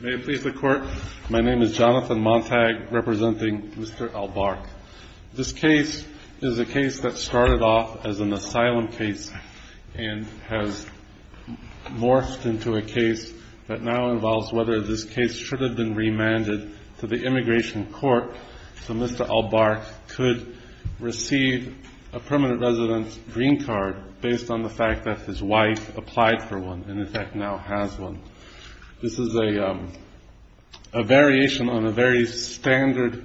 May it please the Court, my name is Jonathan Montag representing Mr. Al-Bark. This case is a case that started off as an asylum case and has morphed into a case that now involves whether this case should have been remanded to the Immigration Court so Mr. Al-Bark could receive a permanent residence green card based on the fact that his wife applied for one and in fact now has one. This is a variation on a very standard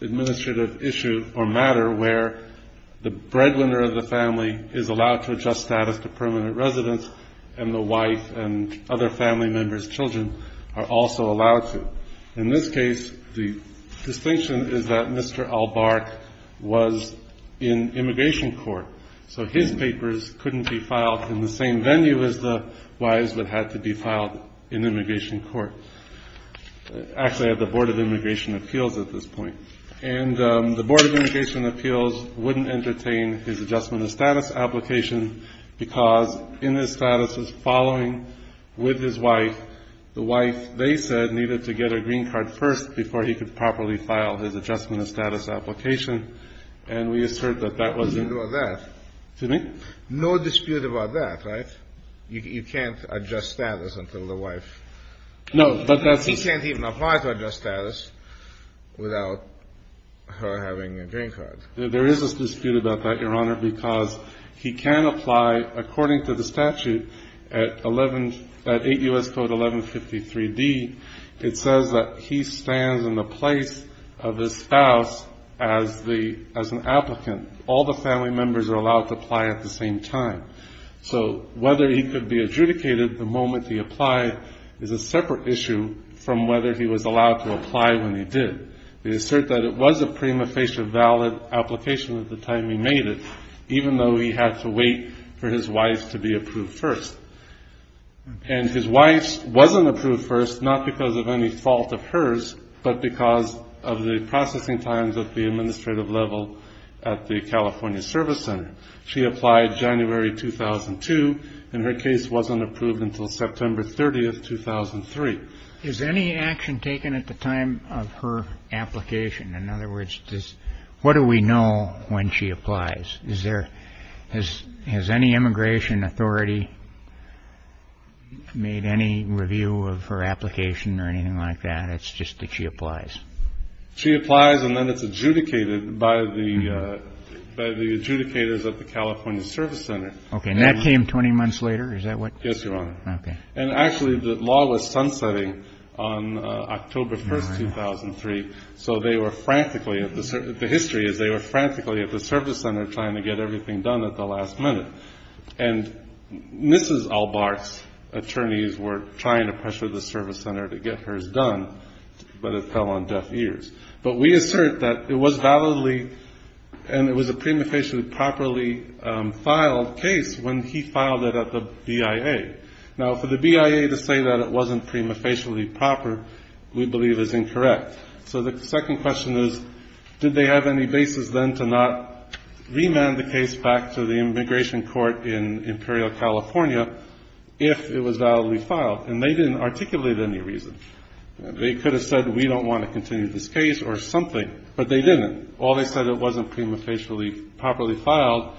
administrative issue or matter where the breadwinner of the family is allowed to adjust status to permanent residence and the wife and other family members' children are also allowed to. In this case the distinction is that Mr. Al-Bark was in Immigration Court so his papers couldn't be filed in the same venue as the wives that had to be filed in Immigration Court. Actually at the Board of Immigration Appeals at this point. And the Board of Immigration Appeals wouldn't entertain his adjustment of status application because in his statuses following with his wife, the wife they said needed to get a green card first before he could properly file his adjustment of status application and we assert that that wasn't... No dispute about that. Excuse me? No dispute about that, right? You can't adjust status until the wife... No, but that's... He can't even apply to adjust status without her having a green card. There is a dispute about that, Your Honor, because he can apply according to the statute at 8 U.S. Code 1153D It says that he stands in the place of his spouse as an applicant. All the family members are allowed to apply at the same time. So whether he could be adjudicated the moment he applied is a separate issue from whether he was allowed to apply when he did. We assert that it was a prima facie valid application at the time he made it even though he had to wait for his wife to be approved first. And his wife wasn't approved first not because of any fault of hers but because of the processing times of the administrative level at the California Service Center. She applied January 2002 and her case wasn't approved until September 30th, 2003. Is any action taken at the time of her application? In other words, what do we know when she applies? Has any immigration authority made any review of her application or anything like that? It's just that she applies. She applies and then it's adjudicated by the adjudicators at the California Service Center. And that came 20 months later? Yes, Your Honor. And actually the law was sunsetting on October 1st, 2003. So they were frantically, the history is they were frantically at the service center trying to get everything done at the last minute. And Mrs. Albart's attorneys were trying to pressure the service center to get hers done but it fell on deaf ears. But we assert that it was validly and it was a prima facie properly filed case when he filed it at the BIA. Now for the BIA to say that it wasn't prima facie proper we believe is incorrect. So the second question is did they have any basis then to not remand the case back to the immigration court in Imperial California if it was validly filed? And they didn't articulate any reason. They could have said we don't want to continue this case or something but they didn't. All they said it wasn't prima facie properly filed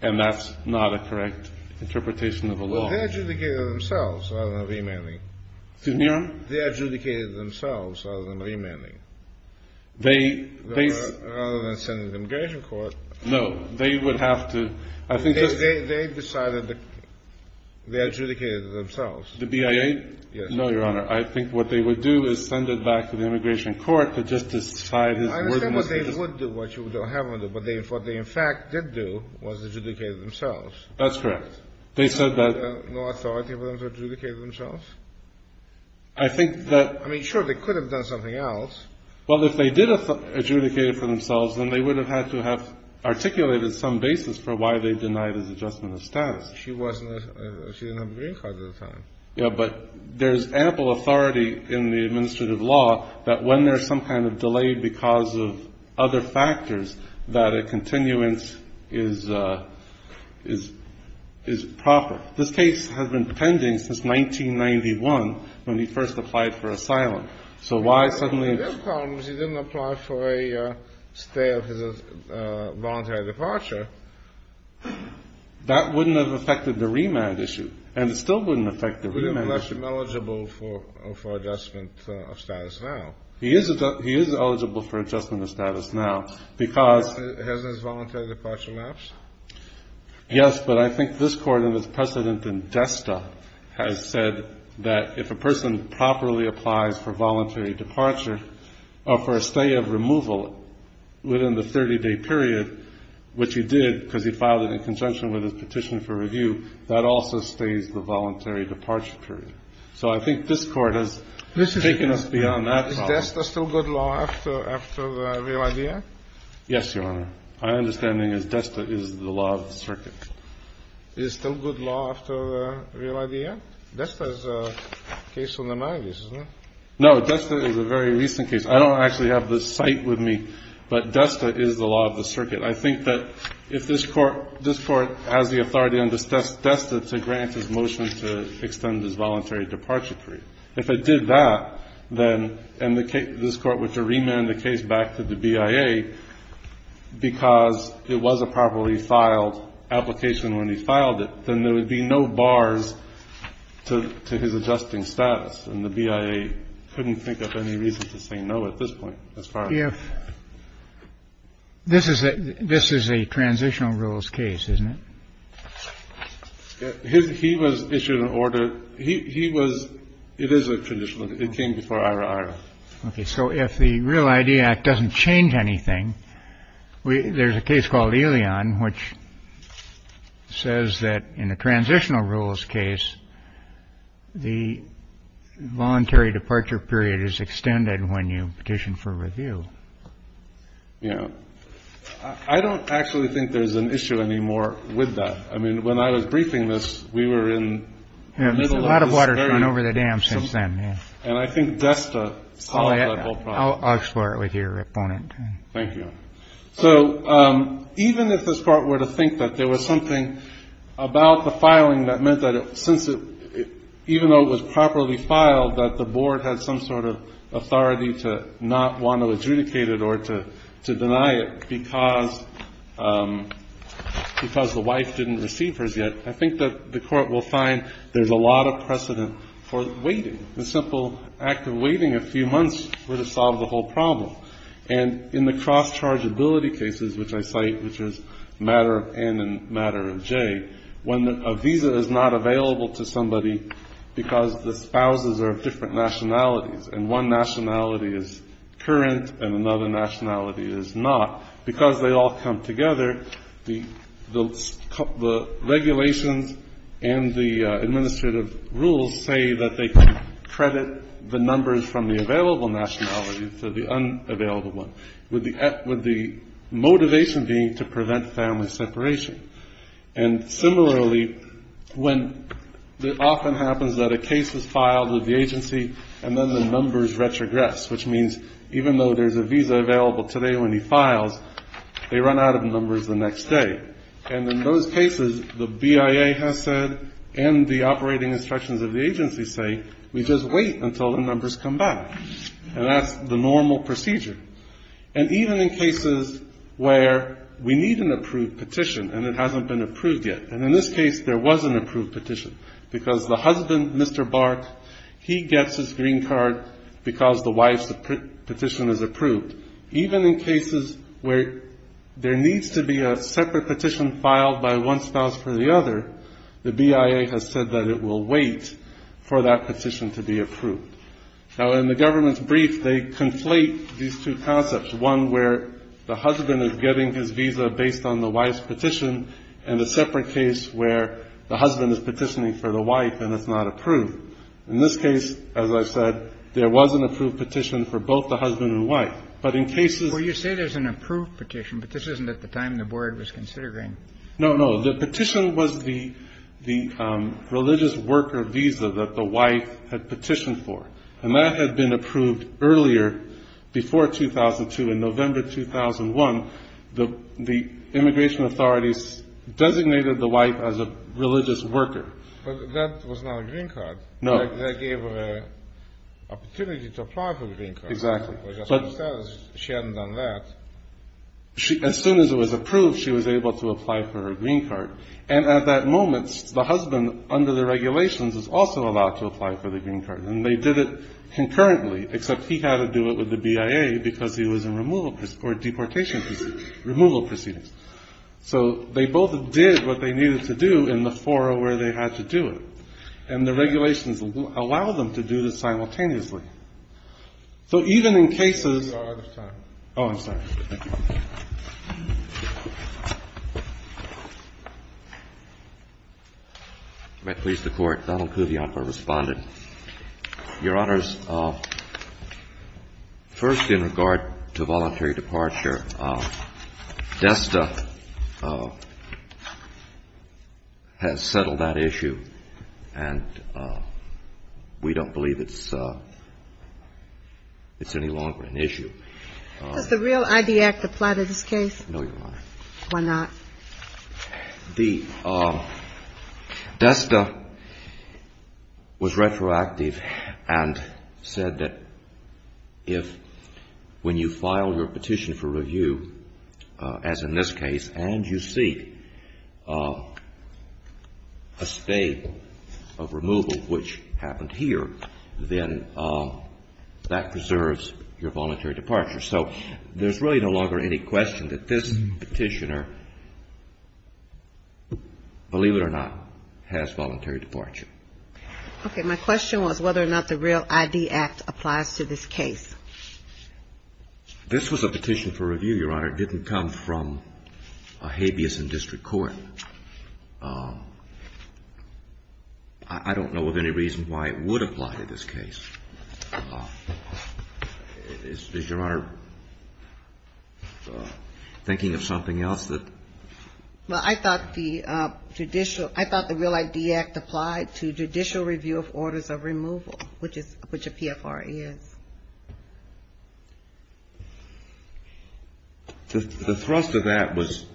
and that's not a correct interpretation of the law. Well they adjudicated themselves rather than remanding. Excuse me, Your Honor? They adjudicated themselves rather than remanding. Rather than sending it to the immigration court. No. They would have to. They decided they adjudicated themselves. The BIA? Yes. No, Your Honor. I think what they would do is send it back to the immigration court to just decide. I understand what they would do, what you don't have them do. But what they in fact did do was adjudicate themselves. That's correct. They said that. No authority for them to adjudicate themselves? I think that. I mean, sure, they could have done something else. Well, if they did adjudicate it for themselves, then they would have had to have articulated some basis for why they denied it as adjustment of status. She didn't have a green card at the time. Yeah, but there's ample authority in the administrative law that when there's some kind of delay because of other factors that a continuance is proper. Now, this case has been pending since 1991 when he first applied for asylum. So why suddenly? The problem is he didn't apply for a stay of his voluntary departure. That wouldn't have affected the remand issue. And it still wouldn't affect the remand issue. It would have left him eligible for adjustment of status now. He is eligible for adjustment of status now because. Has his voluntary departure lapsed? Yes, but I think this Court and its precedent in Desta has said that if a person properly applies for voluntary departure or for a stay of removal within the 30-day period, which he did because he filed it in conjunction with his petition for review, that also stays the voluntary departure period. So I think this Court has taken us beyond that problem. Is Desta still good law after the real idea? Yes, Your Honor. My understanding is Desta is the law of the circuit. Is it still good law after the real idea? Desta is a case on the mind, isn't it? No. Desta is a very recent case. I don't actually have the site with me, but Desta is the law of the circuit. I think that if this Court has the authority under Desta to grant his motion to extend his voluntary departure period, if it did that, then this Court would have to remand the case back to the BIA because it was a properly filed application when he filed it. Then there would be no bars to his adjusting status, and the BIA couldn't think of any reason to say no at this point as far as that. This is a transitional rules case, isn't it? He was issued an order. He was. It is a traditional. It came before Ira. Okay. So if the real idea doesn't change anything, there's a case called Elyon, which says that in a transitional rules case, the voluntary departure period is extended when you petition for review. Yeah. I don't actually think there's an issue anymore with that. I mean, when I was briefing this, we were in the middle of this area. A lot of water has gone over the dam since then, yeah. And I think Desta solved that whole problem. I'll explore it with your opponent. Thank you. So even if this Court were to think that there was something about the filing that meant that since it, even though it was properly filed, that the board had some sort of authority to not want to adjudicate it or to deny it because the wife didn't receive hers yet, I think that the Court will find there's a lot of precedent for waiting. The simple act of waiting a few months would have solved the whole problem. And in the cross-chargeability cases, which I cite, which is matter of N and matter of J, when a visa is not available to somebody because the spouses are of different nationalities and one nationality is current and another nationality is not, because they all come together, the regulations and the administrative rules say that they can credit the numbers from the available nationality to the unavailable one, with the motivation being to prevent family separation. And similarly, when it often happens that a case is filed with the agency and then the numbers retrogress, which means even though there's a visa available today when he files, they run out of numbers the next day. And in those cases, the BIA has said, and the operating instructions of the agency say, we just wait until the numbers come back. And that's the normal procedure. And even in cases where we need an approved petition and it hasn't been approved yet, and in this case there was an approved petition because the husband, Mr. Bark, he gets his green card because the wife's petition is approved. Even in cases where there needs to be a separate petition filed by one spouse for the other, the BIA has said that it will wait for that petition to be approved. Now, in the government's brief, they conflate these two concepts, one where the husband is getting his visa based on the wife's petition and a separate case where the husband is petitioning for the wife and it's not approved. In this case, as I've said, there was an approved petition for both the husband and wife. But in cases where you say there's an approved petition, but this isn't at the time the board was considering. No, no. The petition was the religious worker visa that the wife had petitioned for, and that had been approved earlier before 2002. In November 2001, the immigration authorities designated the wife as a religious worker. But that was not a green card. No. That gave her an opportunity to apply for a green card. Exactly. She hadn't done that. As soon as it was approved, she was able to apply for her green card. And at that moment, the husband, under the regulations, is also allowed to apply for the green card. And they did it concurrently, except he had to do it with the BIA because he was in removal or deportation proceedings, removal proceedings. So they both did what they needed to do in the forum where they had to do it. And the regulations allow them to do this simultaneously. So even in cases of the time. Oh, I'm sorry. Thank you. May it please the Court. Donald Kuvionko responded. Your Honors, first in regard to voluntary departure, DESTA has settled that issue, and we don't believe it's any longer an issue. Does the real ID Act apply to this case? No, Your Honor. Why not? The DESTA was retroactive and said that if, when you file your petition for review, as in this case, and you seek a stay of removal, which happened here, then that preserves your voluntary departure. So there's really no longer any question that this petitioner, believe it or not, has voluntary departure. Okay. My question was whether or not the real ID Act applies to this case. This was a petition for review, Your Honor. It didn't come from a habeas in district court. I don't know of any reason why it would apply to this case. Is Your Honor thinking of something else that? Well, I thought the judicial, I thought the real ID Act applied to judicial review of orders of removal, which a PFR is. The thrust of that was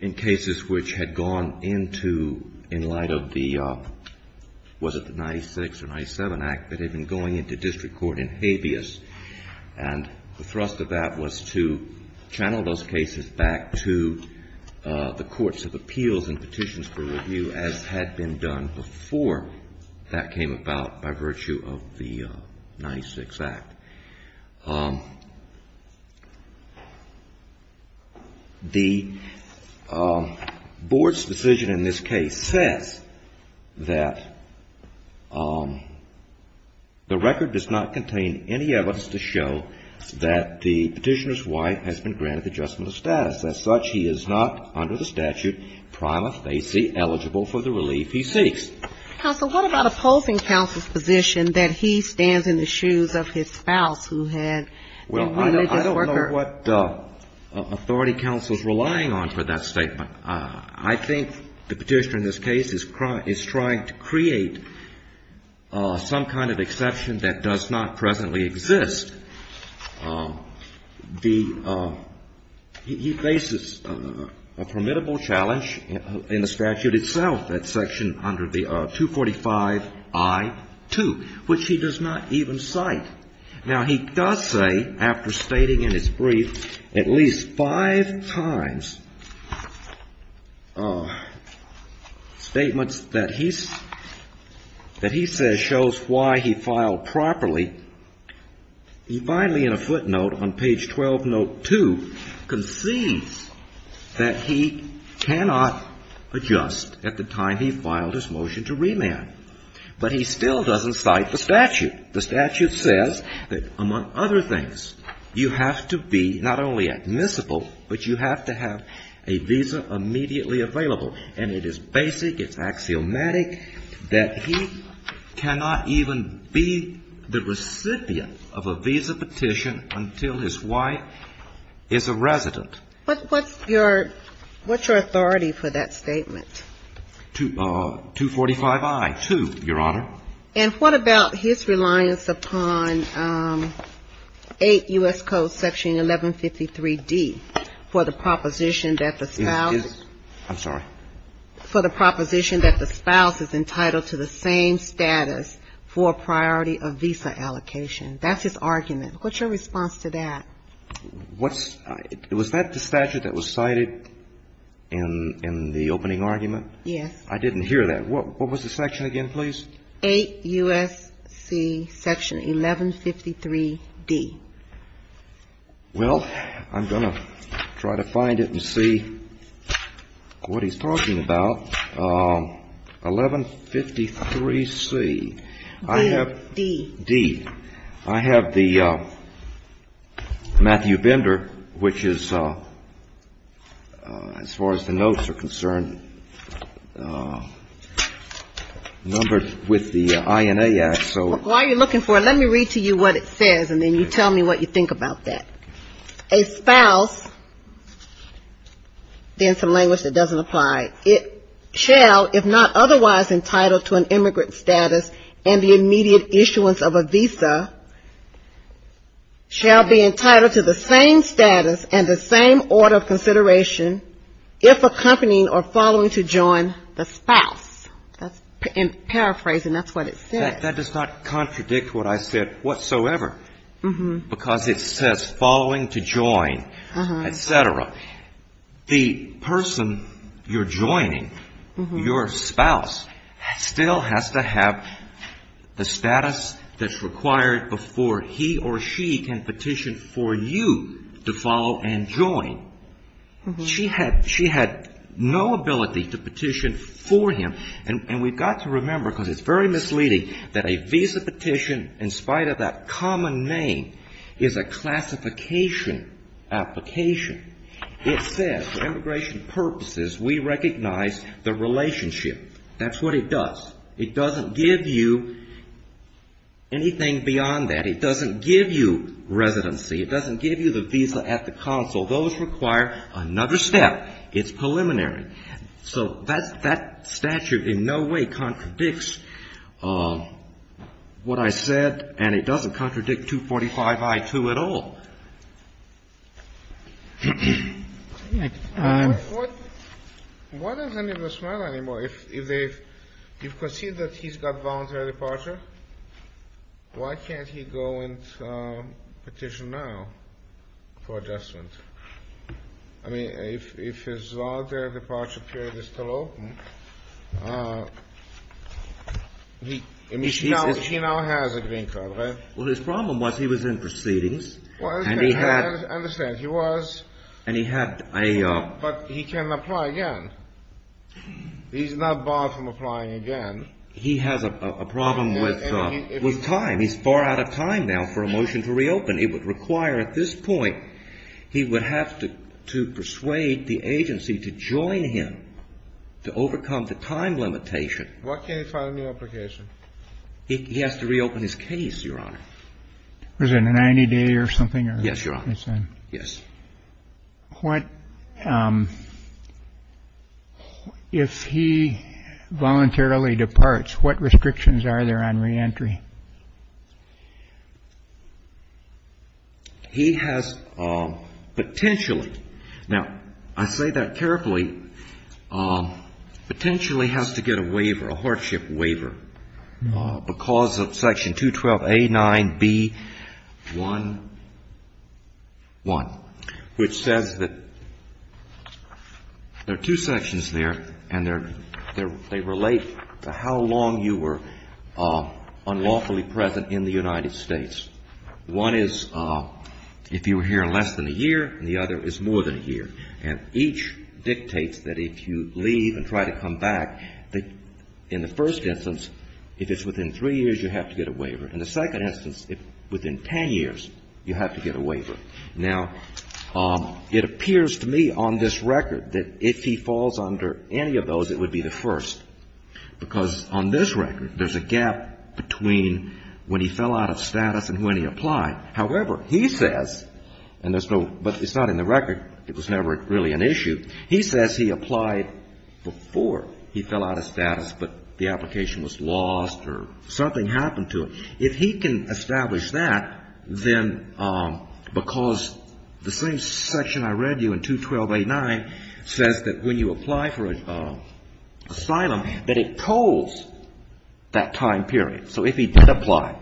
in cases which had gone into, in light of the, was it the 96 or 97? 96 Act that had been going into district court in habeas. And the thrust of that was to channel those cases back to the courts of appeals and petitions for review, as had been done before that came about by virtue of the 96 Act. The board's decision in this case says that the record does not contain any evidence to show that the petitioner's wife has been granted the adjustment of status. As such, he is not under the statute prima facie eligible for the relief he seeks. Counsel, what about opposing counsel's position that he stands in the shoes of his spouse, who had been a religious worker? Well, I don't know what authority counsel's relying on for that statement. I think the petitioner in this case is trying to create some kind of exception that does not presently exist. The, he faces a formidable challenge in the statute itself, that section under the 245-I-2, which he does not even cite. Now, he does say, after stating in his brief, at least five times statements that he says shows why he filed properly. He finally, in a footnote on page 12, note 2, concedes that he cannot adjust at the time he filed his motion to remand. But he still doesn't cite the statute. The statute says that, among other things, you have to be not only admissible, but you have to have a visa immediately available. And it is basic, it's axiomatic, that he cannot even be the recipient of a visa petition until his wife is a resident. What's your authority for that statement? 245-I-2, Your Honor. And what about his reliance upon 8 U.S. Code section 1153-D for the proposition that the spouse is entitled to the same status for a priority of visa allocation? That's his argument. What's your response to that? Was that the statute that was cited in the opening argument? Yes. I didn't hear that. What was the section again, please? 8 U.S.C. section 1153-D. Well, I'm going to try to find it and see what he's talking about. 1153-C. D. D. I have the Matthew Bender, which is, as far as the notes are concerned, numbered with the INA Act. So why are you looking for it? Let me read to you what it says, and then you tell me what you think about that. A spouse, then some language that doesn't apply. It shall, if not otherwise entitled to an immigrant status and the immediate issuance of a visa, shall be entitled to the same status and the same order of consideration if accompanying or following to join the spouse. In paraphrasing, that's what it says. That does not contradict what I said whatsoever, because it says following to join, et cetera. The person you're joining, your spouse, still has to have the status that's required before he or she can petition for you to follow and join. She had no ability to petition for him. And we've got to remember, because it's very misleading, that a visa petition, in spite of that common name, is a classification application. It says for immigration purposes, we recognize the relationship. That's what it does. It doesn't give you anything beyond that. It doesn't give you residency. It doesn't give you the visa at the consul. Those require another step. It's preliminary. So that statute in no way contradicts what I said, and it doesn't contradict 245I2 at all. What does any of this matter anymore? If they've conceded that he's got voluntary departure, why can't he go and petition now for adjustment? I mean, if his voluntary departure period is still open, he now has a green card, right? Well, his problem was he was in proceedings, and he had — I understand. He was — And he had a — But he can apply again. He's not barred from applying again. He has a problem with time. He's far out of time now for a motion to reopen. It would require at this point he would have to persuade the agency to join him to overcome the time limitation. What can he find in the application? He has to reopen his case, Your Honor. Was it a 90-day or something? Yes, Your Honor. Yes. What — if he voluntarily departs, what restrictions are there on reentry? He has potentially — now, I say that carefully. He potentially has to get a waiver, a hardship waiver, because of Section 212A9B1, which says that there are two sections there, and they relate to how long you were unlawfully present in the United States. One is if you were here less than a year, and the other is more than a year. And each dictates that if you leave and try to come back, that in the first instance, if it's within three years, you have to get a waiver. In the second instance, if — within 10 years, you have to get a waiver. Now, it appears to me on this record that if he falls under any of those, it would be the first, because on this record, there's a gap between when he fell out of status and when he applied. However, he says — and there's no — but it's not in the record. It was never really an issue. He says he applied before he fell out of status, but the application was lost or something happened to it. If he can establish that, then — because the same section I read you in 212A9 says that when you apply for asylum, that it tolls that time period. So if he did apply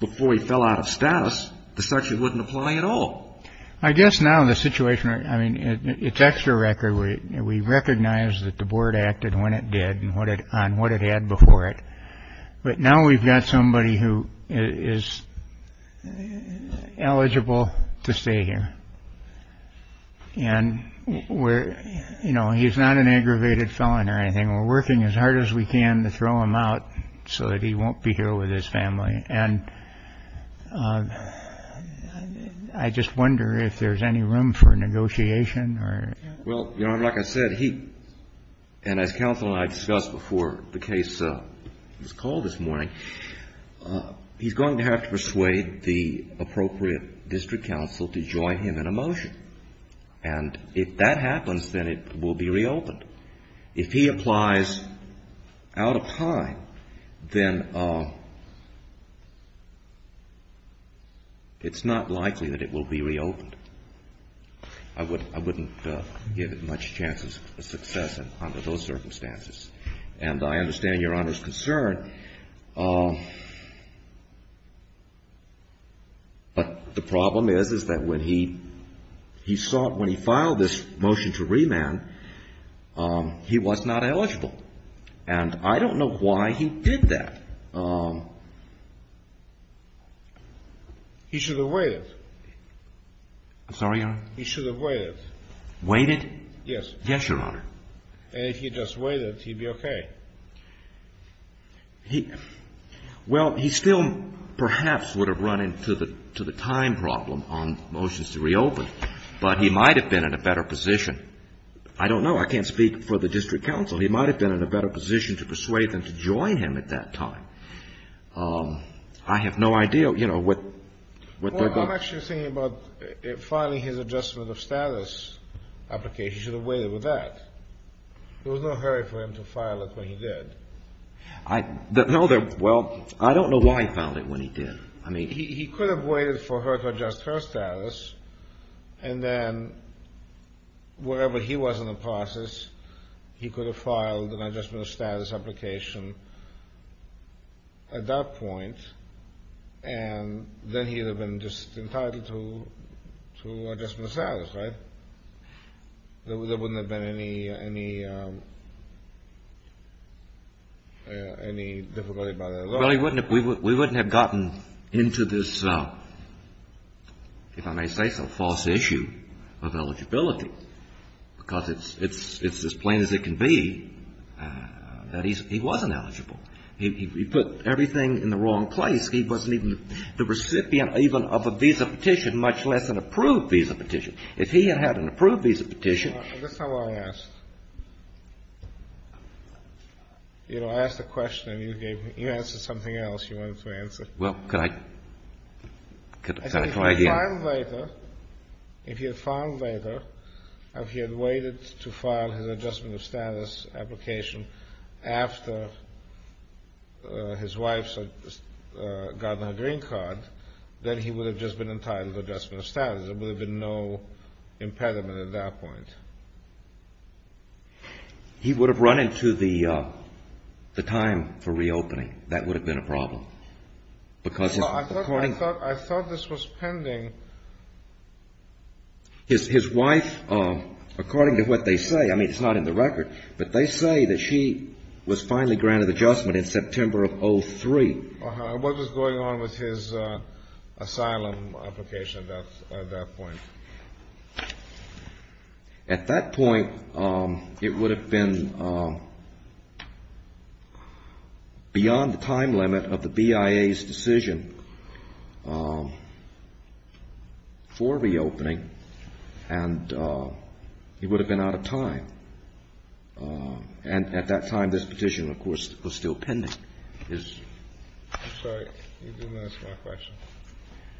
before he fell out of status, the statute wouldn't apply at all. I guess now the situation — I mean, it's extra record. We recognize that the board acted when it did and what it — on what it had before it. But now we've got somebody who is eligible to stay here. And we're — you know, he's not an aggravated felon or anything. We're working as hard as we can to throw him out so that he won't be here with his family. And I just wonder if there's any room for negotiation or — Well, you know, like I said, he — and as counsel and I discussed before the case was called this morning, he's going to have to persuade the appropriate district counsel to join him in a motion. And if that happens, then it will be reopened. If he applies out of time, then it's not likely that it will be reopened. I wouldn't give it much chance of success under those circumstances. And I understand Your Honor's concern. But the problem is, is that when he sought — when he filed this motion to remand, he was not eligible. And I don't know why he did that. He should have waited. I'm sorry, Your Honor? He should have waited. Waited? Yes. Yes, Your Honor. And if he just waited, he'd be okay. He — well, he still perhaps would have run into the time problem on motions to reopen, but he might have been in a better position. I don't know. I can't speak for the district counsel. He might have been in a better position to persuade them to join him at that time. I have no idea, you know, what they're going to — Well, I'm actually thinking about filing his adjustment of status application. He should have waited with that. There was no hurry for him to file it when he did. No, there — well, I don't know why he filed it when he did. I mean — He could have waited for her to adjust her status, and then wherever he was in the process, he could have filed an adjustment of status application at that point, and then he would have been just entitled to adjustment of status, right? There wouldn't have been any difficulty by the law? Well, we wouldn't have gotten into this, if I may say so, false issue of eligibility, because it's as plain as it can be that he wasn't eligible. He put everything in the wrong place. He wasn't even the recipient even of a visa petition, much less an approved visa petition. If he had had an approved visa petition — All right. That's not what I asked. You know, I asked a question, and you gave me — you answered something else you wanted to answer. Well, could I — could I try again? If he had filed later, if he had filed later, if he had waited to file his adjustment of status application after his wife's gotten a green card, then he would have just been entitled to adjustment of status. There would have been no impediment at that point. He would have run into the time for reopening. That would have been a problem, because — I thought this was pending. His wife, according to what they say — I mean, it's not in the record, but they say that she was finally granted adjustment in September of 2003. What was going on with his asylum application at that point? At that point, it would have been beyond the time limit of the BIA's decision for reopening, and he would have been out of time. And at that time, this petition, of course, was still pending. I'm sorry. You didn't answer my question.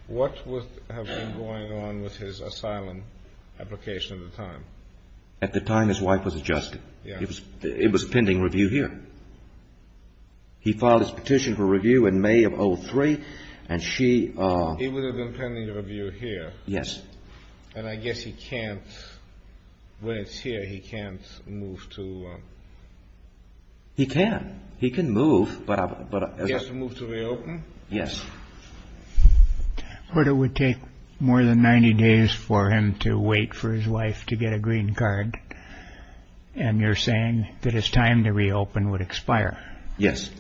What would have been going on with his asylum application at the time? At the time, his wife was adjusted. Yes. It was a pending review here. He filed his petition for review in May of 2003, and she — He would have been pending review here. Yes. And I guess he can't — when it's here, he can't move to — He can. He can move, but — He has to move to reopen? Yes. Or it would take more than 90 days for him to wait for his wife to get a green card, and you're saying that his time to reopen would expire. Yes.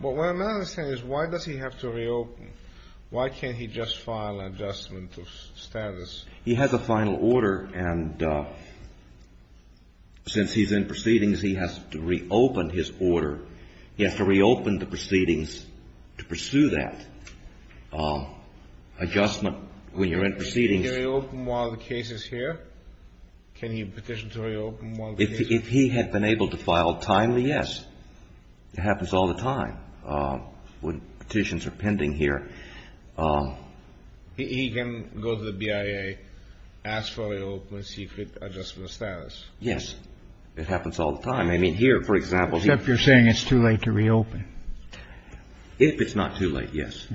But what I'm not understanding is why does he have to reopen? Why can't he just file an adjustment of status? He has a final order, and since he's in proceedings, he has to reopen his order. He has to reopen the proceedings to pursue that adjustment when you're in proceedings. Can he reopen while the case is here? Can he petition to reopen while the case — If he had been able to file timely, yes. It happens all the time. When petitions are pending here. He can go to the BIA, ask for a reopen, see if it adjusts the status. Yes. It happens all the time. I mean, here, for example — Except you're saying it's too late to reopen. If it's not too late, yes.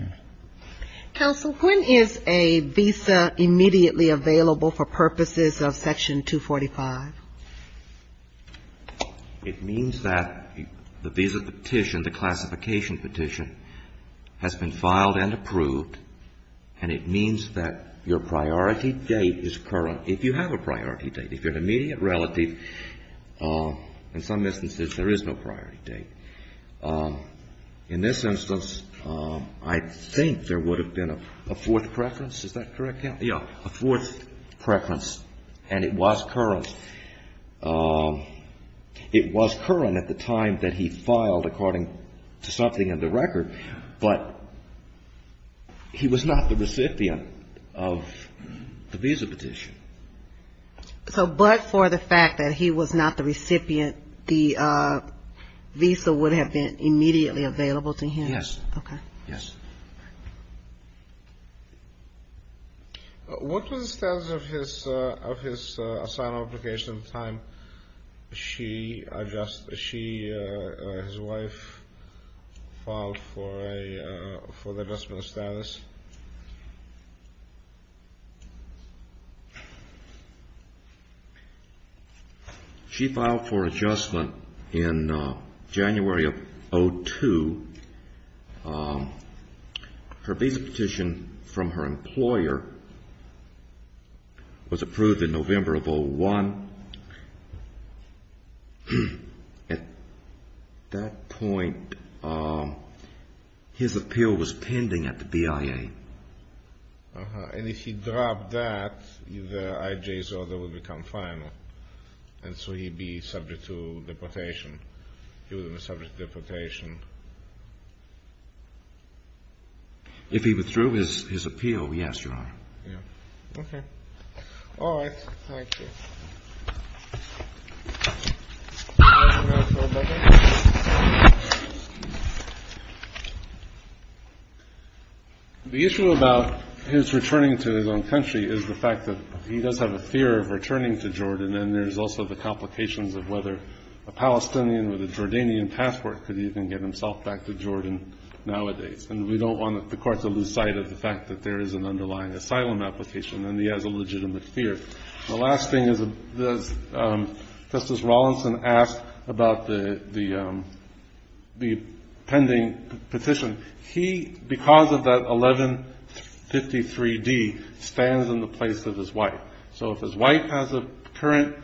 Counsel, when is a visa immediately available for purposes of Section 245? It means that the visa petition, the classification petition, has been filed and approved, and it means that your priority date is current, if you have a priority date. If you're an immediate relative, in some instances, there is no priority date. In this instance, I think there would have been a fourth preference. Is that correct? Yes. No, a fourth preference, and it was current. It was current at the time that he filed, according to something in the record, but he was not the recipient of the visa petition. So but for the fact that he was not the recipient, the visa would have been immediately available to him? Yes. Okay. Yes. What was the status of his asylum application at the time she — his wife filed for the adjustment status? She filed for adjustment in January of 2002. Her visa petition from her employer was approved in November of 2001. At that point, his appeal was pending at the BIA. And if he dropped that, the IJ's order would become final, and so he'd be subject to deportation. He would have been subject to deportation. If he withdrew his appeal, yes, Your Honor. Yes. Okay. All right. Thank you. The issue about his returning to his own country is the fact that he does have a fear of returning to Jordan, and there's also the complications of whether a Palestinian with a Jordanian password could even get himself back to Jordan nowadays. And we don't want the court to lose sight of the fact that there is an underlying asylum application and he has a legitimate fear. The last thing is, Justice Rawlinson asked about the pending petition. He, because of that 1153D, stands in the place of his wife. So if his wife has a current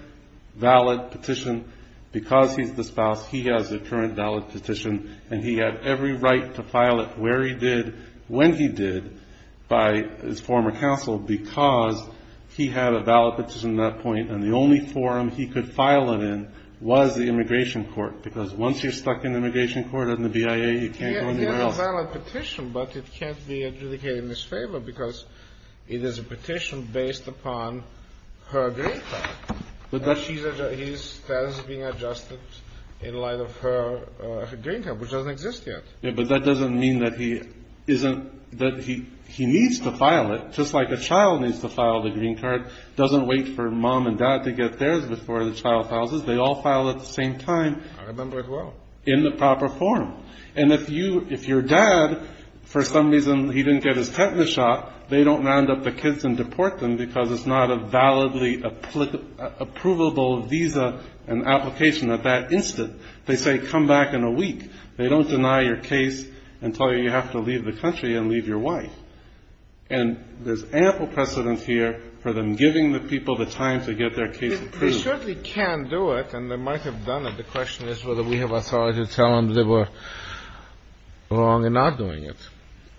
valid petition, because he's the spouse, he has a current valid petition, and he had every right to file it where he did, when he did, by his former counsel, because he had a valid petition at that point, and the only forum he could file it in was the immigration court, because once you're stuck in the immigration court and the BIA, you can't go anywhere else. It is a valid petition, but it can't be adjudicated in his favor because it is a petition based upon her green card. And his status is being adjusted in light of her green card, which doesn't exist yet. Yeah, but that doesn't mean that he needs to file it, just like a child needs to file the green card. It doesn't wait for mom and dad to get theirs before the child files it. They all file at the same time. I remember it well. In the proper form. And if your dad, for some reason, he didn't get his tetanus shot, they don't round up the kids and deport them because it's not a validly approvable visa and application at that instant. They say, come back in a week. They don't deny your case and tell you you have to leave the country and leave your wife. And there's ample precedence here for them giving the people the time to get their case approved. They certainly can do it, and they might have done it. The question is whether we have authority to tell them they were wrong in not doing it.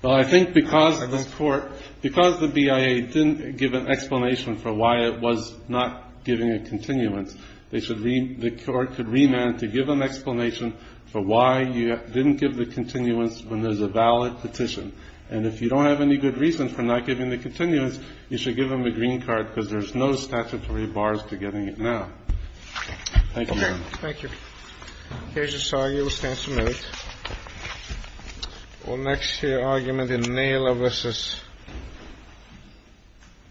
Well, I think because this Court, because the BIA didn't give an explanation for why it was not giving a continuance, they should read, the Court could remand to give an explanation for why you didn't give the continuance when there's a valid petition. And if you don't have any good reason for not giving the continuance, you should give them a green card because there's no statutory bars to getting it now. Thank you, Your Honor. Okay. Thank you. The case is sorry. It will stand submitted. Our next argument is Naylor v.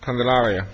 Candelaria.